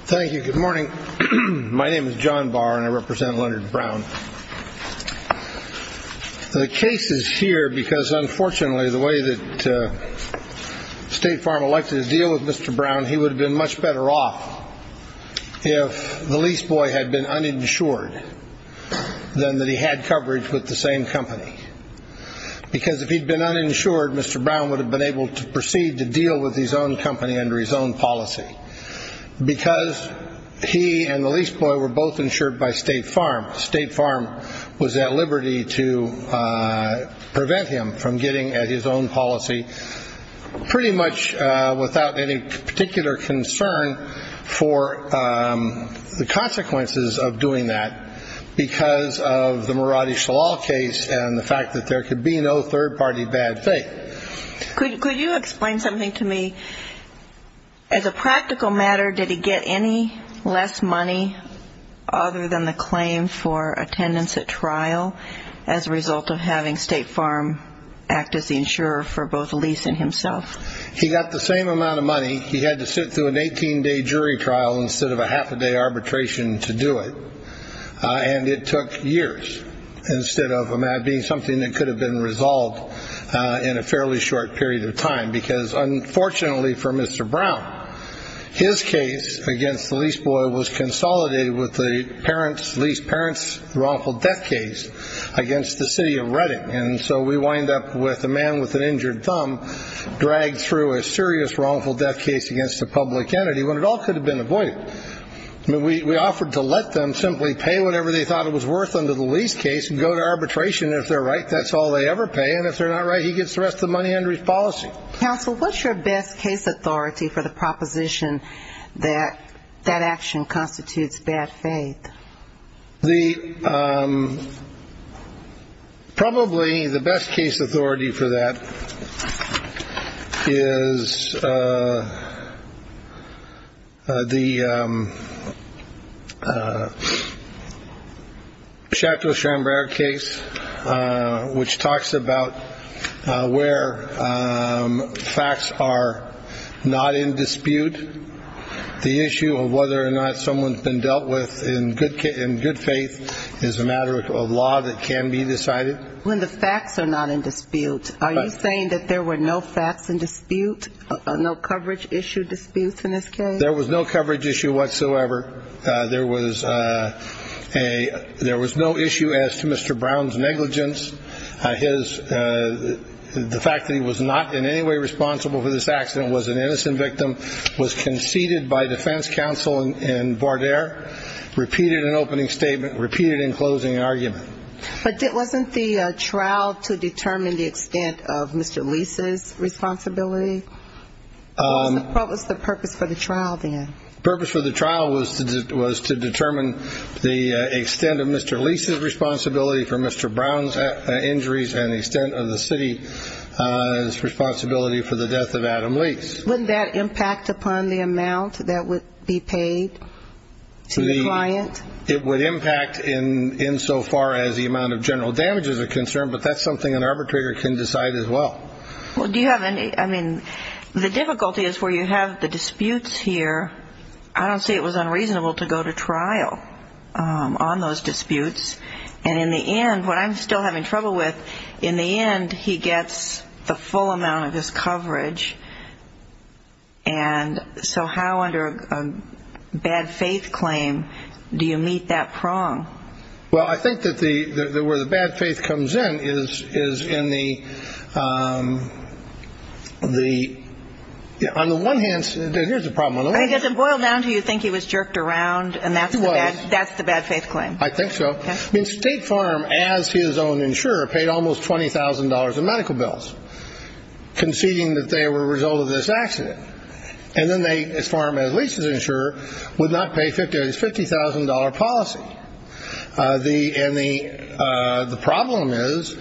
Thank you. Good morning. My name is John Barr, and I represent Leonard Brown. The case is here because, unfortunately, the way that State Farm elected to deal with Mr. Brown, he would have been much better off if the lease boy had been uninsured than that he had coverage with the same company. Because if he'd been uninsured, Mr. Brown would have been able to proceed to deal with his own company under his own policy. Because he and the lease boy were both insured by State Farm, State Farm was at liberty to prevent him from getting at his own policy pretty much without any particular concern for the consequences of doing that. Because of the Maradi Shalal case and the fact that there could be no third-party bad faith. Could you explain something to me? As a practical matter, did he get any less money other than the claim for attendance at trial as a result of having State Farm act as the insurer for both the lease and himself? He got the same amount of money. He had to sit through an 18-day jury trial instead of a half-a-day arbitration to do it. And it took years instead of it being something that could have been resolved in a fairly short period of time. Because unfortunately for Mr. Brown, his case against the lease boy was consolidated with the lease parent's wrongful death case against the City of Reading. And so we wind up with a man with an injured thumb dragged through a serious wrongful death case against a public entity when it all could have been avoided. We offered to let them simply pay whatever they thought it was worth under the lease case and go to arbitration. If they're right, that's all they ever pay. And if they're not right, he gets the rest of the money under his policy. Counsel, what's your best case authority for the proposition that that action constitutes bad faith? The. Probably the best case authority for that is. The Shacklesham case, which talks about where facts are not in dispute. The issue of whether or not someone's been dealt with in good faith is a matter of law that can be decided. When the facts are not in dispute, are you saying that there were no facts in dispute, no coverage issue disputes in this case? There was no coverage issue whatsoever. There was a there was no issue as to Mr. Brown's negligence. His the fact that he was not in any way responsible for this accident was an innocent victim, was conceded by defense counseling. And Vardair repeated an opening statement, repeated in closing argument. But it wasn't the trial to determine the extent of Mr. Lisa's responsibility. What was the purpose for the trial? The purpose for the trial was to was to determine the extent of Mr. Lisa's responsibility for Mr. Brown's injuries and the extent of the city's responsibility for the death of Adam Lease. Wouldn't that impact upon the amount that would be paid to the client? It would impact in insofar as the amount of general damage is a concern. But that's something an arbitrator can decide as well. Well, do you have any I mean, the difficulty is where you have the disputes here. I don't say it was unreasonable to go to trial on those disputes. And in the end, what I'm still having trouble with in the end, he gets the full amount of this coverage. And so how under a bad faith claim, do you meet that prong? Well, I think that the where the bad faith comes in is is in the the on the one hand. Here's the problem. I guess it boiled down to you think he was jerked around. And that's why that's the bad faith claim. I think so. I mean, State Farm, as his own insurer, paid almost twenty thousand dollars in medical bills conceding that they were a result of this accident. And then they, as far as at least as insurer, would not pay fifty fifty thousand dollar policy. The and the the problem is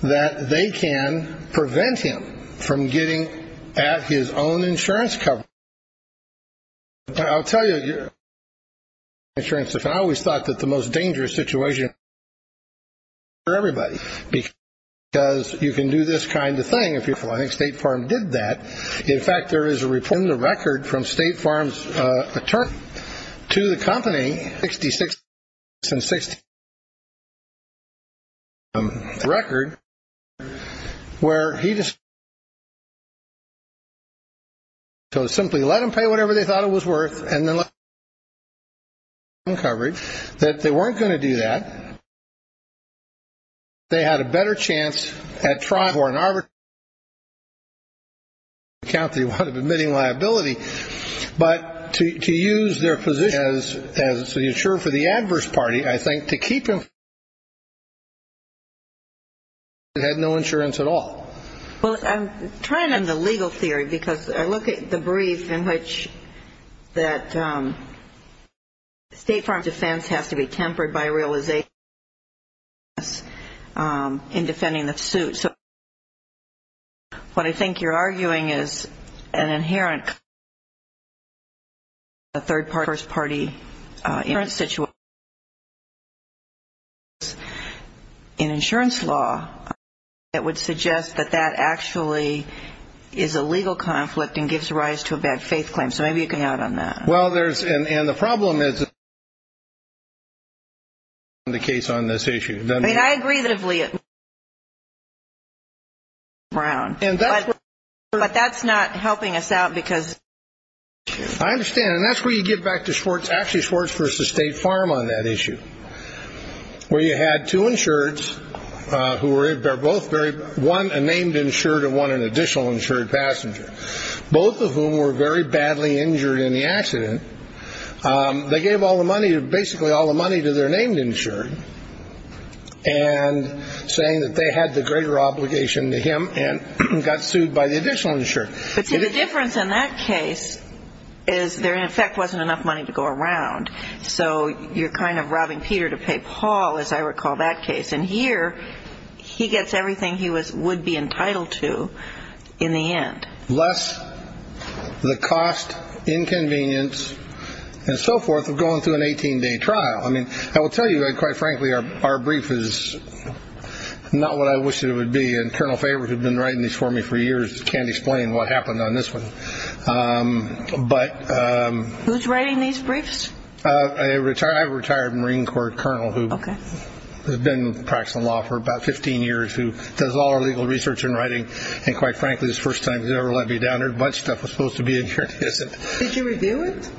that they can prevent him from getting at his own insurance cover. I'll tell you, you're insurance. If I always thought that the most dangerous situation for everybody, because you can do this kind of thing. I think State Farm did that. In fact, there is a report in the record from State Farm's attorney to the company. Sixty six and sixty record where he just. So simply let them pay whatever they thought it was worth and then uncovered that they weren't going to do that. They had a better chance at trying for an arbitrary account. They would have been admitting liability. But to use their position as the insurer for the adverse party, I think, to keep him. It had no insurance at all. Well, I'm trying on the legal theory because I look at the brief in which that. State Farm defense has to be tempered by real as a. In defending the suit. So. What I think you're arguing is an inherent. A third party first party in a situation. In insurance law, it would suggest that that actually is a legal conflict and gives rise to a bad faith claim. So maybe you can add on that. Well, there's. And the problem is. The case on this issue. I mean, I agree that. Brown. And that's what. But that's not helping us out because. I understand. And that's where you get back to Schwartz. Actually, Schwartz versus State Farm on that issue. Where you had two insureds who were both very one named insured and one an additional insured passenger, both of whom were very badly injured in the accident. They gave all the money, basically all the money to their named insured. And saying that they had the greater obligation to him and got sued by the additional insured. The difference in that case is there, in effect, wasn't enough money to go around. So you're kind of robbing Peter to pay Paul, as I recall that case. And here he gets everything he was would be entitled to in the end. Less the cost, inconvenience and so forth of going through an 18 day trial. I mean, I will tell you, quite frankly, our brief is not what I wished it would be. And Colonel Faber, who's been writing these for me for years, can't explain what happened on this one. But. Who's writing these briefs? A retired Marine Corps colonel who has been practicing law for about 15 years, who does all our legal research and writing. And quite frankly, this first time he's ever let me down. There's a bunch of stuff that's supposed to be in here. Did you review it?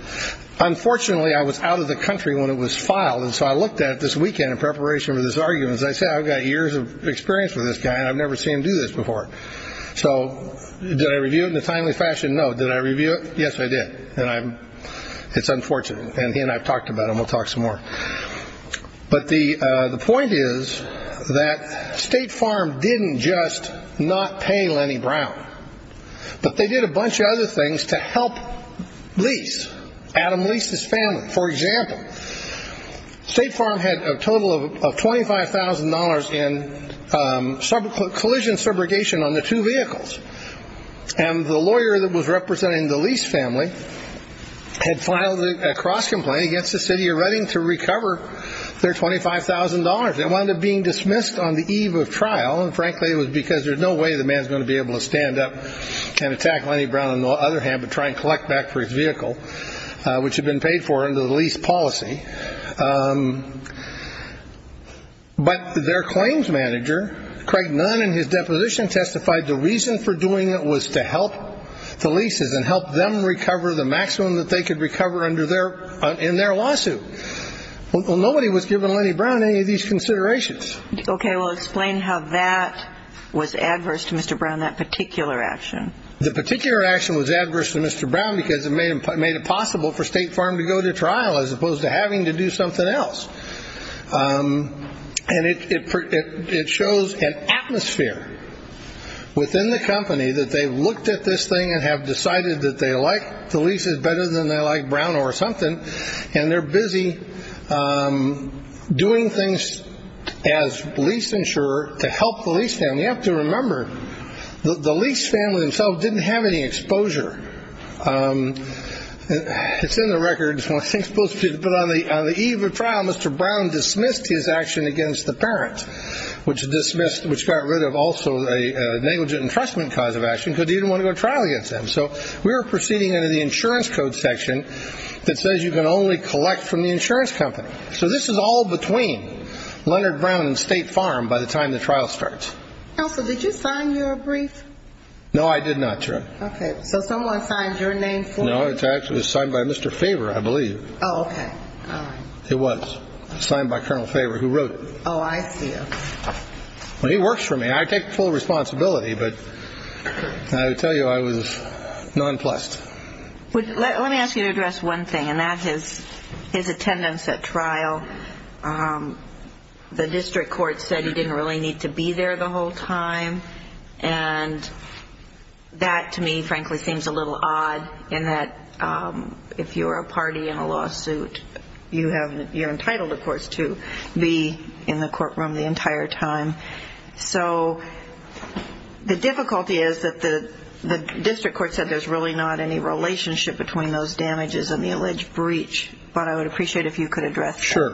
Unfortunately, I was out of the country when it was filed. And so I looked at it this weekend in preparation for this argument. As I said, I've got years of experience with this guy and I've never seen him do this before. So did I review it in a timely fashion? No. Did I review it? Yes, I did. And it's unfortunate. And he and I have talked about him. We'll talk some more. But the point is that State Farm didn't just not pay Lenny Brown, but they did a bunch of other things to help Lease, Adam Lease's family. For example, State Farm had a total of $25,000 in collision subrogation on the two vehicles. And the lawyer that was representing the Lease family had filed a cross complaint against the city of Reading to recover their $25,000. It wound up being dismissed on the eve of trial. And, frankly, it was because there's no way the man is going to be able to stand up and attack Lenny Brown on the other hand but try and collect back for his vehicle, which had been paid for under the Lease policy. But their claims manager, Craig Nunn, in his deposition testified the reason for doing it was to help the Leases and help them recover the maximum that they could recover in their lawsuit. Well, nobody was giving Lenny Brown any of these considerations. Okay. Well, explain how that was adverse to Mr. Brown, that particular action. The particular action was adverse to Mr. Brown because it made it possible for State Farm to go to trial as opposed to having to do something else. And it shows an atmosphere within the company that they've looked at this thing and have decided that they like the Leases better than they like Brown or something, and they're busy doing things as lease insurer to help the lease family. You have to remember the lease family themselves didn't have any exposure. It's in the records. But on the eve of trial, Mr. Brown dismissed his action against the parent, which got rid of also a negligent entrustment cause of action because he didn't want to go to trial against them. So we were proceeding under the insurance code section that says you can only collect from the insurance company. So this is all between Leonard Brown and State Farm by the time the trial starts. Counsel, did you sign your brief? No, I did not, Your Honor. Okay. So someone signed your name for you? No, it was signed by Mr. Faber, I believe. Oh, okay. It was signed by Colonel Faber, who wrote it. Oh, I see. Well, he works for me. I take full responsibility, but I will tell you I was nonplussed. Let me ask you to address one thing, and that is his attendance at trial. The district court said he didn't really need to be there the whole time, and that, to me, frankly, seems a little odd in that if you're a party in a lawsuit, you're entitled, of course, to be in the courtroom the entire time. So the difficulty is that the district court said there's really not any relationship between those damages and the alleged breach, but I would appreciate if you could address that. Sure.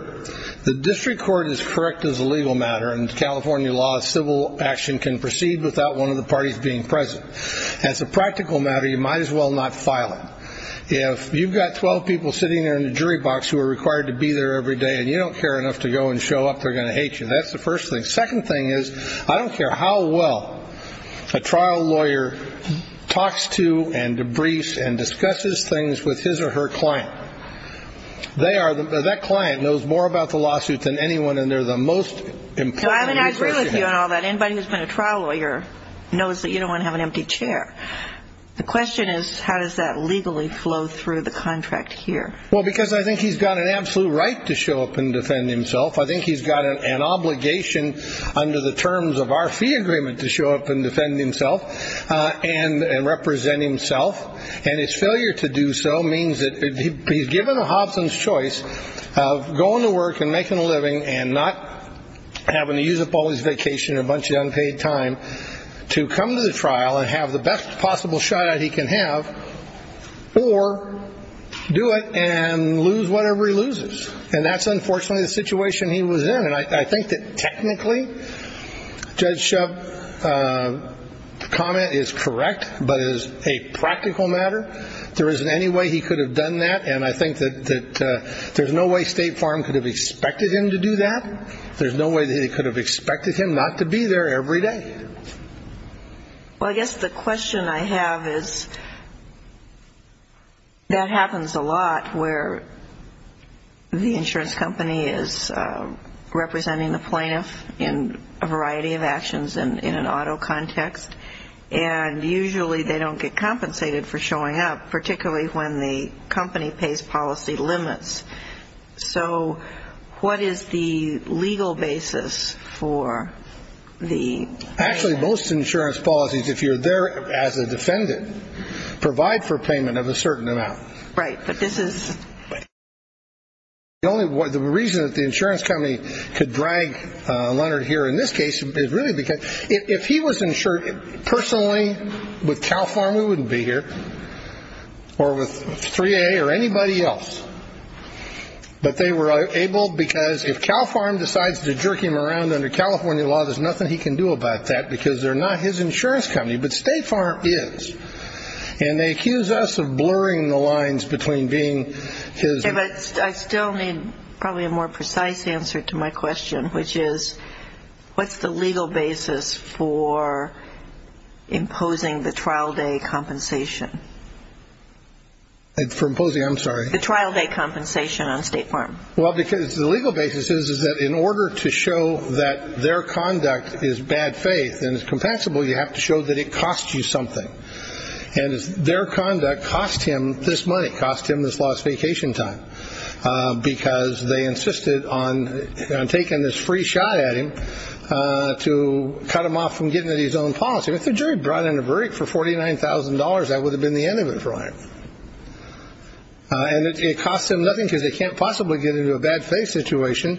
The district court is correct as a legal matter. In California law, civil action can proceed without one of the parties being present. As a practical matter, you might as well not file it. If you've got 12 people sitting there in the jury box who are required to be there every day and you don't care enough to go and show up, they're going to hate you. That's the first thing. Second thing is I don't care how well a trial lawyer talks to and debriefs and discusses things with his or her client, that client knows more about the lawsuit than anyone and they're the most important person. I agree with you on all that. Anybody who's been a trial lawyer knows that you don't want to have an empty chair. The question is how does that legally flow through the contract here? Well, because I think he's got an absolute right to show up and defend himself. I think he's got an obligation under the terms of our fee agreement to show up and defend himself and represent himself. And his failure to do so means that he's given a Hobson's choice of going to work and making a living and not having to use up all his vacation or a bunch of unpaid time to come to the trial and have the best possible shot he can have or do it and lose whatever he loses. And that's unfortunately the situation he was in. And I think that technically Judge Shub's comment is correct, but as a practical matter, there isn't any way he could have done that. And I think that there's no way State Farm could have expected him to do that. There's no way they could have expected him not to be there every day. Well, I guess the question I have is that happens a lot where the insurance company is representing the plaintiff in a variety of actions in an auto context, and usually they don't get compensated for showing up, particularly when the company pays policy limits. So what is the legal basis for the payment? Actually, most insurance policies, if you're there as a defendant, provide for payment of a certain amount. Right, but this is... The only reason that the insurance company could drag Leonard here in this case is really because if he was insured personally with Cal Farm, we wouldn't be here, or with 3A or anybody else. But they were able because if Cal Farm decides to jerk him around under California law, there's nothing he can do about that because they're not his insurance company. But State Farm is. And they accuse us of blurring the lines between being his... Yeah, but I still need probably a more precise answer to my question, which is what's the legal basis for imposing the trial day compensation? For imposing, I'm sorry? The trial day compensation on State Farm. Well, because the legal basis is that in order to show that their conduct is bad faith and is compensable, you have to show that it costs you something. And their conduct cost him this money, cost him this lost vacation time, because they insisted on taking this free shot at him to cut him off from getting his own policy. If the jury brought in a verdict for $49,000, that would have been the end of it for him. And it costs him nothing because they can't possibly get into a bad faith situation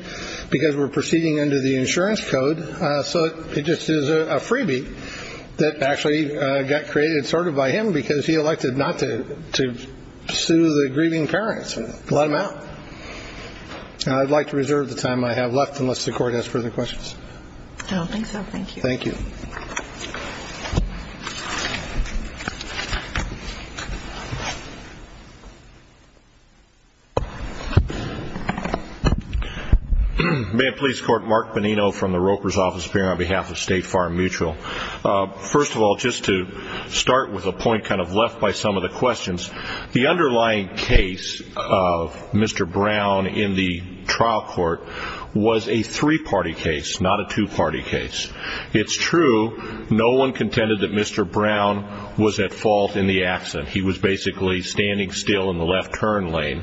because we're proceeding under the insurance code. So it just is a freebie that actually got created sort of by him because he elected not to sue the grieving parents. So let him out. And I'd like to reserve the time I have left unless the Court has further questions. I don't think so. Thank you. Thank you. Ma'am, Police Court, Mark Bonino from the Roper's office here on behalf of State Farm Mutual. First of all, just to start with a point kind of left by some of the questions, the underlying case of Mr. Brown in the trial court was a three-party case, not a two-party case. It's true no one contended that Mr. Brown was at fault in the accident. He was basically standing still in the left turn lane.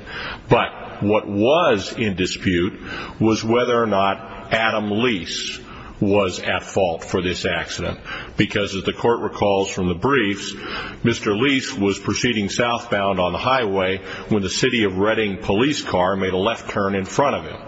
But what was in dispute was whether or not Adam Lease was at fault for this accident because, as the Court recalls from the briefs, Mr. Lease was proceeding southbound on the highway when the City of Redding police car made a left turn in front of him.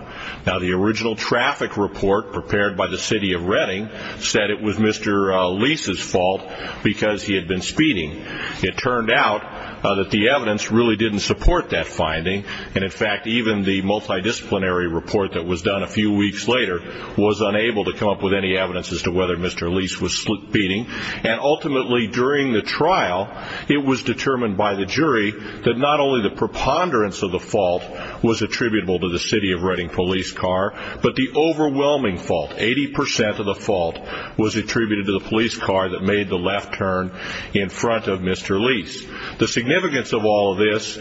Now, the original traffic report prepared by the City of Redding said it was Mr. Lease's fault because he had been speeding. It turned out that the evidence really didn't support that finding, and, in fact, even the multidisciplinary report that was done a few weeks later was unable to come up with any evidence as to whether Mr. Lease was speeding. And ultimately, during the trial, it was determined by the jury that not only the preponderance of the fault was attributable to the City of Redding police car, but the overwhelming fault, 80 percent of the fault, was attributed to the police car that made the left turn in front of Mr. Lease. The significance of all of this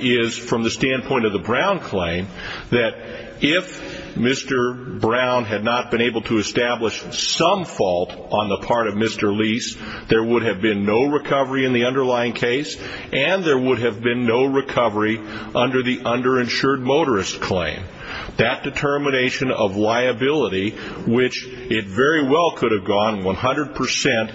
is, from the standpoint of the Brown claim, that if Mr. Brown had not been able to establish some fault on the part of Mr. Lease, there would have been no recovery in the underlying case, and there would have been no recovery under the underinsured motorist claim. That determination of liability, which it very well could have gone 100 percent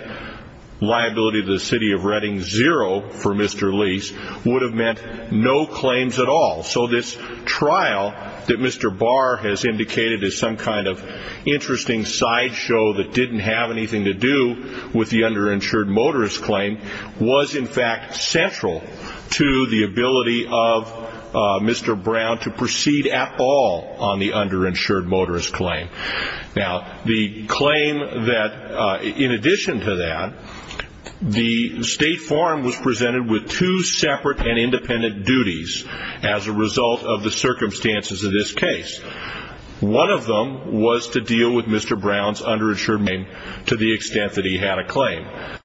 liability to the City of Redding, zero for Mr. Lease, would have meant no claims at all. So this trial that Mr. Barr has indicated as some kind of interesting sideshow that didn't have anything to do with the underinsured motorist claim was, in fact, central to the ability of Mr. Brown to proceed at all on the underinsured motorist claim. Now, the claim that, in addition to that, the State Farm was presented with two separate and independent duties as a result of the circumstances of this case. One of them was to deal with Mr. Brown's underinsured motorist claim to the extent that he had a claim. The other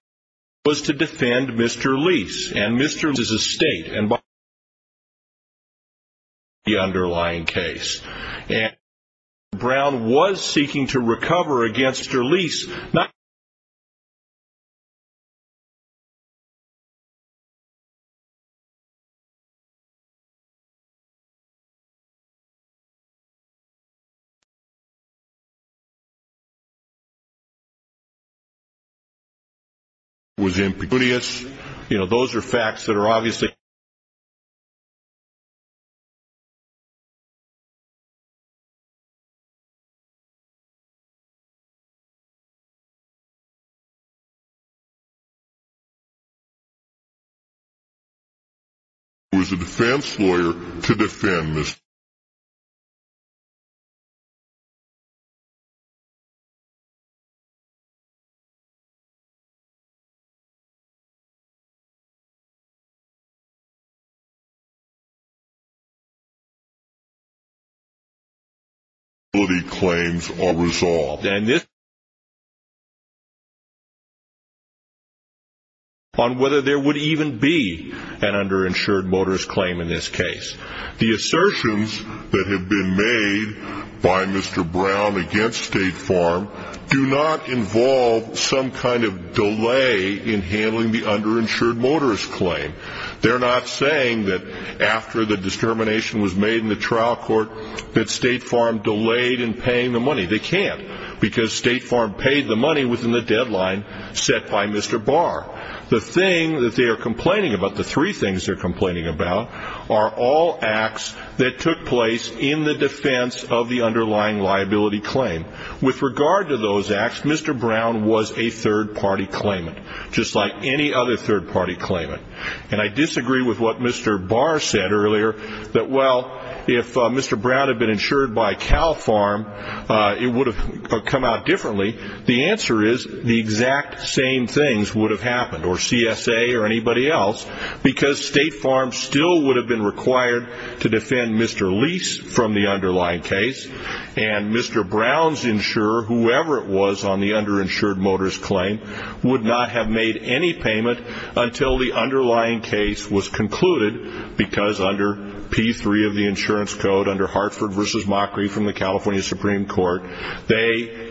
was to defend Mr. Lease, and Mr. Lease is a State, and Mr. Brown was seeking to recover against Mr. Lease, and the other one was in Pecunias. Those are facts that are obviously on whether there would even be an underinsured motorist claim in this case. The assertions that have been made by Mr. Brown against State Farm do not involve some kind of delay in handling the underinsured motorist claim. They're not saying that after the determination was made in the trial court that State Farm delayed in paying the money. They can't, because State Farm paid the money within the deadline set by Mr. Barr. The thing that they are complaining about, the three things they're complaining about, are all acts that took place in the defense of the underlying liability claim. With regard to those acts, Mr. Brown was a third-party claimant, just like any other third-party claimant. And I disagree with what Mr. Barr said earlier, that, well, if Mr. Brown had been insured by Cal Farm, it would have come out differently. The answer is the exact same things would have happened, or CSA or anybody else, because State Farm still would have been required to defend Mr. Lease from the underlying case, and Mr. Brown's insurer, whoever it was on the underinsured motorist claim, would not have made any payment until the underlying case was concluded, because under P3 of the insurance code, under Hartford v. Mockery from the California Supreme Court, they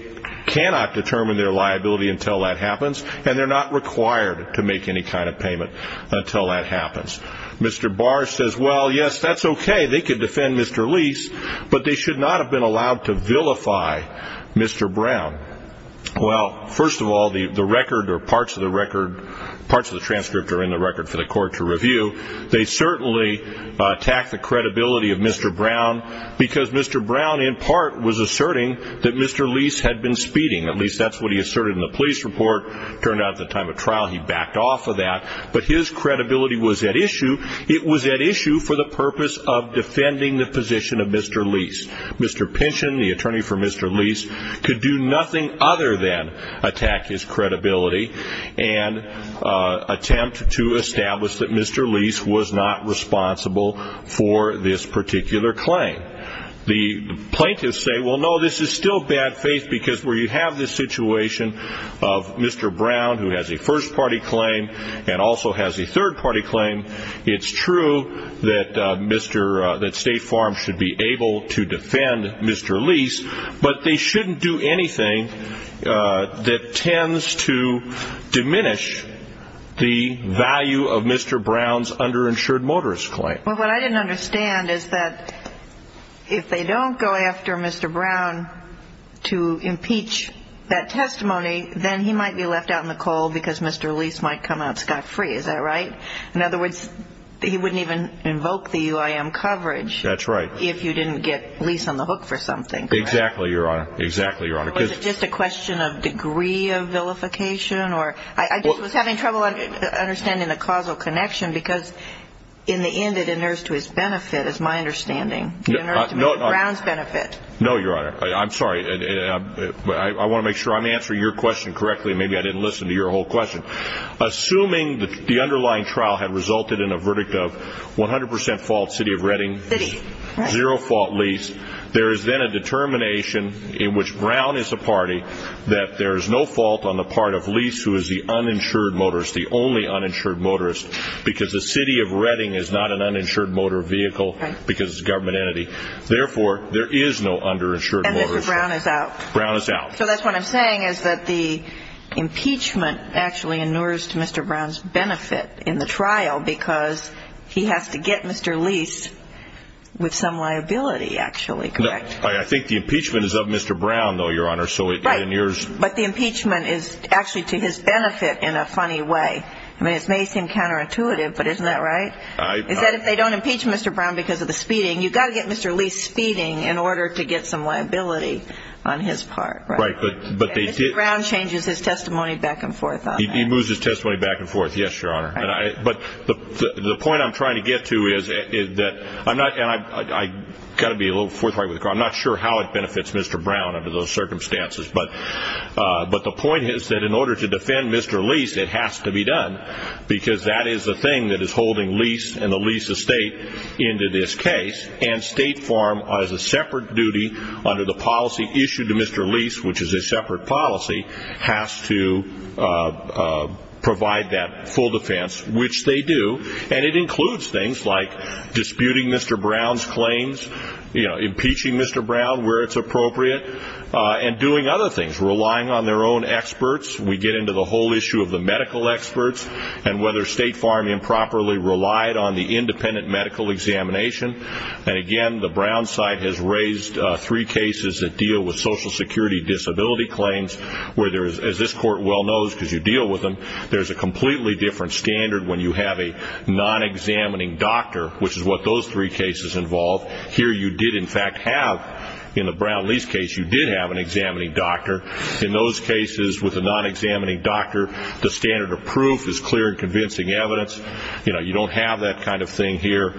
cannot determine their liability until that happens, and they're not required to make any kind of payment until that happens. Mr. Barr says, well, yes, that's okay. They could defend Mr. Lease, but they should not have been allowed to vilify Mr. Brown. Well, first of all, the record or parts of the transcript are in the record for the court to review. They certainly attack the credibility of Mr. Brown, because Mr. Brown in part was asserting that Mr. Lease had been speeding. At least that's what he asserted in the police report. It turned out at the time of trial he backed off of that, but his credibility was at issue. It was at issue for the purpose of defending the position of Mr. Lease. Mr. Pynchon, the attorney for Mr. Lease, could do nothing other than attack his credibility and attempt to establish that Mr. Lease was not responsible for this particular claim. The plaintiffs say, well, no, this is still bad faith, because where you have this situation of Mr. Brown, who has a first-party claim, and also has a third-party claim, it's true that State Farm should be able to defend Mr. Lease, but they shouldn't do anything that tends to diminish the value of Mr. Brown's underinsured motorist claim. Well, what I didn't understand is that if they don't go after Mr. Brown to impeach that testimony, then he might be left out in the cold because Mr. Lease might come out scot-free. Is that right? In other words, he wouldn't even invoke the UIM coverage if you didn't get Lease on the hook for something. Exactly, Your Honor. Or is it just a question of degree of vilification? I just was having trouble understanding the causal connection, because in the end it inerrs to his benefit, is my understanding. No, Your Honor. I'm sorry. I want to make sure I'm answering your question correctly. Maybe I didn't listen to your whole question. Assuming the underlying trial had resulted in a verdict of 100% fault, City of Redding, zero-fault Lease, there is then a determination in which Brown is a party that there is no fault on the part of Lease, who is the uninsured motorist, the only uninsured motorist, because the City of Redding is not an uninsured motor vehicle because it's a government entity. Therefore, there is no underinsured motorist. And Mr. Brown is out. Brown is out. So that's what I'm saying, is that the impeachment actually inerrs to Mr. Brown's benefit in the trial because he has to get Mr. Lease with some liability, actually, correct? I think the impeachment is of Mr. Brown, though, Your Honor. Right, but the impeachment is actually to his benefit in a funny way. I mean, it may seem counterintuitive, but isn't that right? Is that if they don't impeach Mr. Brown because of the speeding, you've got to get Mr. Lease speeding in order to get some liability on his part, right? Right, but they did. Mr. Brown changes his testimony back and forth on that. He moves his testimony back and forth, yes, Your Honor. But the point I'm trying to get to is that I'm not going to be a little forthright with you, because I'm not sure how it benefits Mr. Brown under those circumstances, but the point is that in order to defend Mr. Lease, it has to be done, because that is the thing that is holding Lease and the Lease estate into this case, and State Farm, as a separate duty under the policy issued to Mr. Lease, which is a separate policy, has to provide that full defense, which they do. And it includes things like disputing Mr. Brown's claims, impeaching Mr. Brown where it's appropriate, and doing other things, relying on their own experts. We get into the whole issue of the medical experts and whether State Farm improperly relied on the independent medical examination. And, again, the Brown side has raised three cases that deal with Social Security disability claims, where, as this Court well knows because you deal with them, there's a completely different standard when you have a non-examining doctor, which is what those three cases involve. Here you did, in fact, have, in the Brown-Lease case, you did have an examining doctor. In those cases, with a non-examining doctor, the standard of proof is clear and convincing evidence. You don't have that kind of thing here.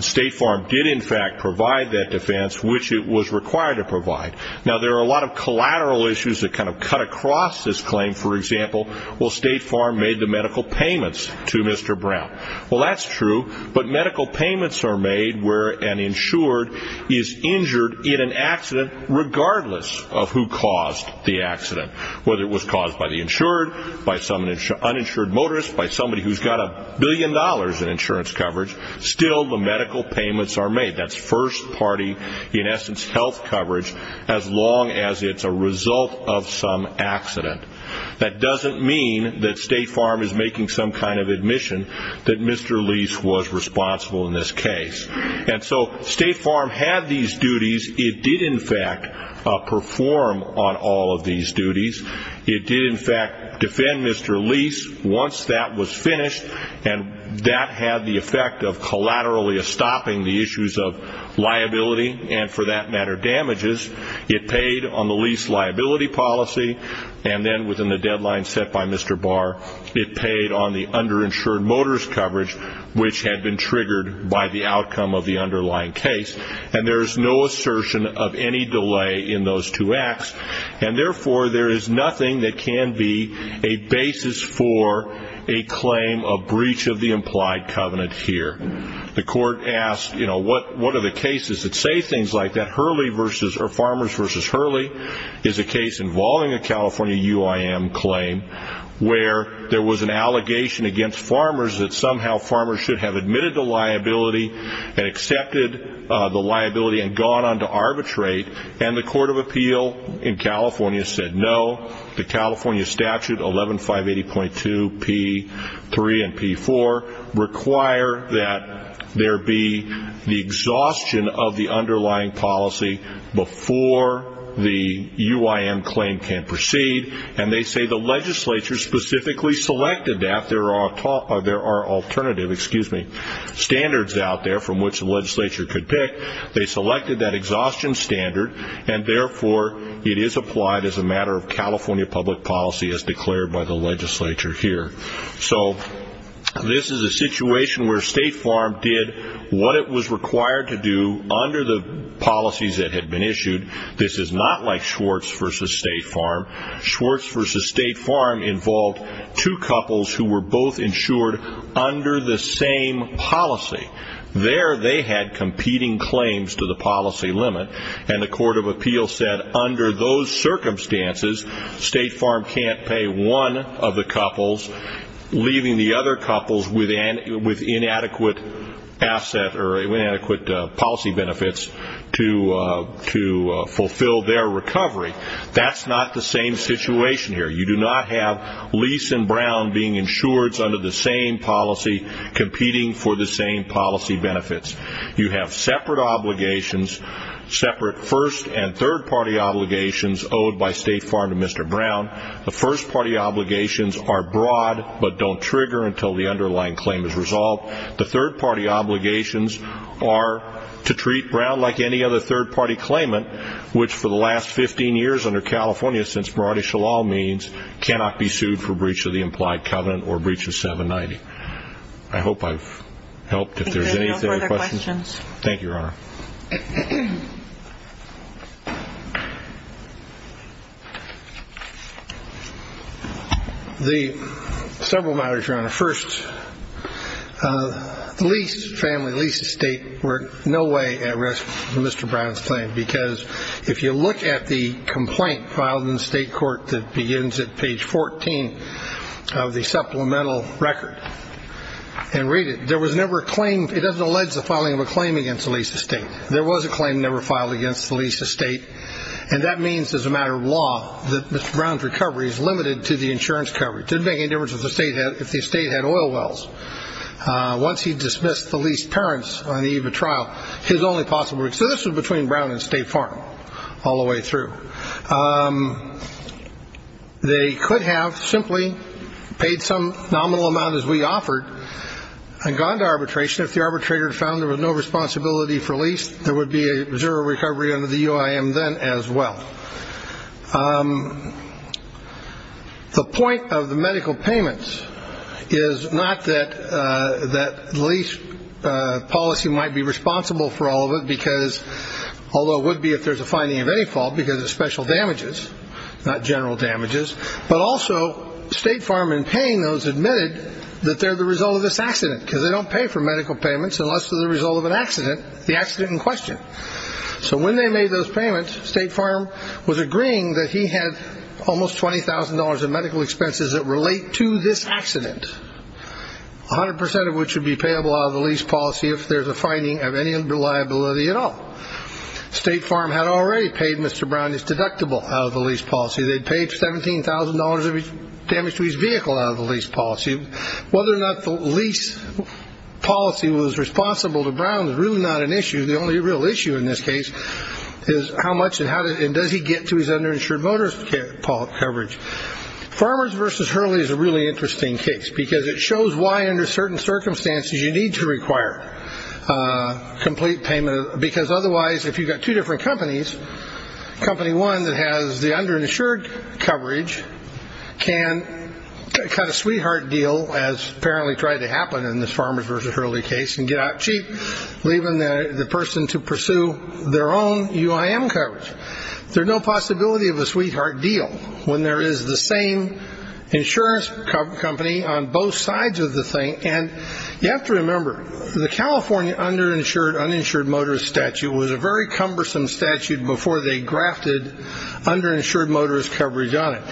State Farm did, in fact, provide that defense, which it was required to provide. Now, there are a lot of collateral issues that kind of cut across this claim. For example, State Farm made the medical payments to Mr. Brown. Well, that's true, but medical payments are made where an insured is injured in an accident regardless of who caused the accident, whether it was caused by the insured, by some uninsured motorist, by somebody who's got a billion dollars in insurance coverage. Still, the medical payments are made. That's first-party, in essence, health coverage, as long as it's a result of some accident. That doesn't mean that State Farm is making some kind of admission that Mr. Lease was responsible in this case. And so State Farm had these duties. It did, in fact, perform on all of these duties. It did, in fact, defend Mr. Lease once that was finished, and that had the effect of collaterally stopping the issues of liability and, for that matter, damages. It paid on the lease liability policy, and then within the deadline set by Mr. Barr, it paid on the underinsured motorist coverage, which had been triggered by the outcome of the underlying case. And there is no assertion of any delay in those two acts, and therefore there is nothing that can be a basis for a claim of breach of the implied covenant here. The court asked, you know, what are the cases that say things like that? Farmers v. Hurley is a case involving a California UIM claim, where there was an allegation against farmers that somehow farmers should have admitted the liability and accepted the liability and gone on to arbitrate, and the Court of Appeal in California said no. The California statute, 11580.2p3 and p4, require that there be the exhaustion of the underlying policy before the UIM claim can proceed, and they say the legislature specifically selected that. There are alternative standards out there from which the legislature could pick. They selected that exhaustion standard, and therefore it is applied as a matter of California public policy, as declared by the legislature here. So this is a situation where State Farm did what it was required to do under the policies that had been issued. This is not like Schwartz v. State Farm. Schwartz v. State Farm involved two couples who were both insured under the same policy. There they had competing claims to the policy limit, and the Court of Appeal said under those circumstances State Farm can't pay one of the couples, leaving the other couples with inadequate asset or inadequate policy benefits to fulfill their recovery. That's not the same situation here. You do not have Leeson Brown being insured under the same policy, competing for the same policy benefits. You have separate obligations, separate first and third party obligations, owed by State Farm to Mr. Brown. The first party obligations are broad, but don't trigger until the underlying claim is resolved. The third party obligations are to treat Brown like any other third party claimant, which for the last 15 years under California, since Maradi Shalal means, cannot be sued for breach of the implied covenant or breach of 790. I hope I've helped. If there's any further questions. Thank you, Your Honor. Several matters, Your Honor. First, the lease family, lease estate were in no way at risk for Mr. Brown's claim, because if you look at the complaint filed in the state court that begins at page 14 of the supplemental record, and read it, there was never a claim. It doesn't allege the filing of a claim against the lease estate. There was a claim never filed against the lease estate, and that means as a matter of law that Mr. Brown's recovery is limited to the insurance coverage. It didn't make any difference if the estate had oil wells. Once he dismissed the lease parents on the eve of trial, his only possible. So this was between Brown and State Farm all the way through. They could have simply paid some nominal amount, as we offered, and gone to arbitration. If the arbitrator found there was no responsibility for lease, there would be a zero recovery under the UIM then as well. Now, the point of the medical payments is not that lease policy might be responsible for all of it, although it would be if there's a finding of any fault because of special damages, not general damages, but also State Farm in paying those admitted that they're the result of this accident, because they don't pay for medical payments unless they're the result of an accident, the accident in question. So when they made those payments, State Farm was agreeing that he had almost $20,000 in medical expenses that relate to this accident, 100% of which would be payable out of the lease policy if there's a finding of any unreliability at all. State Farm had already paid Mr. Brown his deductible out of the lease policy. They'd paid $17,000 of damage to his vehicle out of the lease policy. Whether or not the lease policy was responsible to Brown is really not an issue. The only real issue in this case is how much and does he get to his underinsured motorist coverage. Farmers versus Hurley is a really interesting case because it shows why under certain circumstances you need to require complete payment, because otherwise if you've got two different companies, company one that has the underinsured coverage can cut a sweetheart deal, as apparently tried to happen in this Farmers versus Hurley case, and get out cheap, leaving the person to pursue their own UIM coverage. There's no possibility of a sweetheart deal when there is the same insurance company on both sides of the thing. And you have to remember, the California underinsured uninsured motorist statute was a very cumbersome statute before they grafted underinsured motorist coverage on it.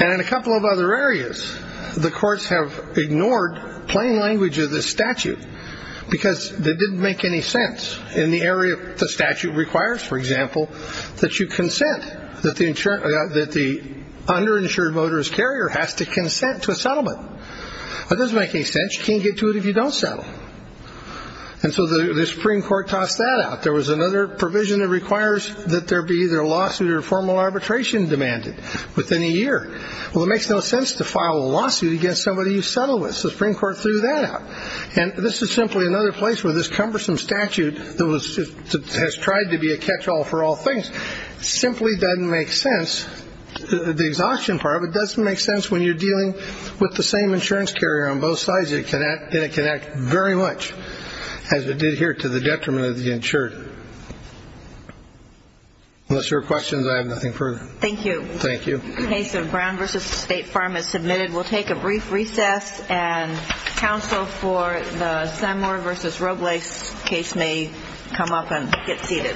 And in a couple of other areas, the courts have ignored plain language of this statute because that didn't make any sense in the area the statute requires, for example, that you consent, that the underinsured motorist carrier has to consent to a settlement. That doesn't make any sense. You can't get to it if you don't settle. And so the Supreme Court tossed that out. There was another provision that requires that there be either a lawsuit or formal arbitration demanded within a year. Well, it makes no sense to file a lawsuit against somebody you settle with. The Supreme Court threw that out. And this is simply another place where this cumbersome statute that has tried to be a catch-all for all things simply doesn't make sense. The exhaustion part of it doesn't make sense when you're dealing with the same insurance carrier on both sides, and it can act very much as it did here to the detriment of the insured. Unless there are questions, I have nothing further. Thank you. Case of Brown v. State Farm is submitted. We'll take a brief recess, and counsel for the Sandmore v. Robles case may come up and get seated.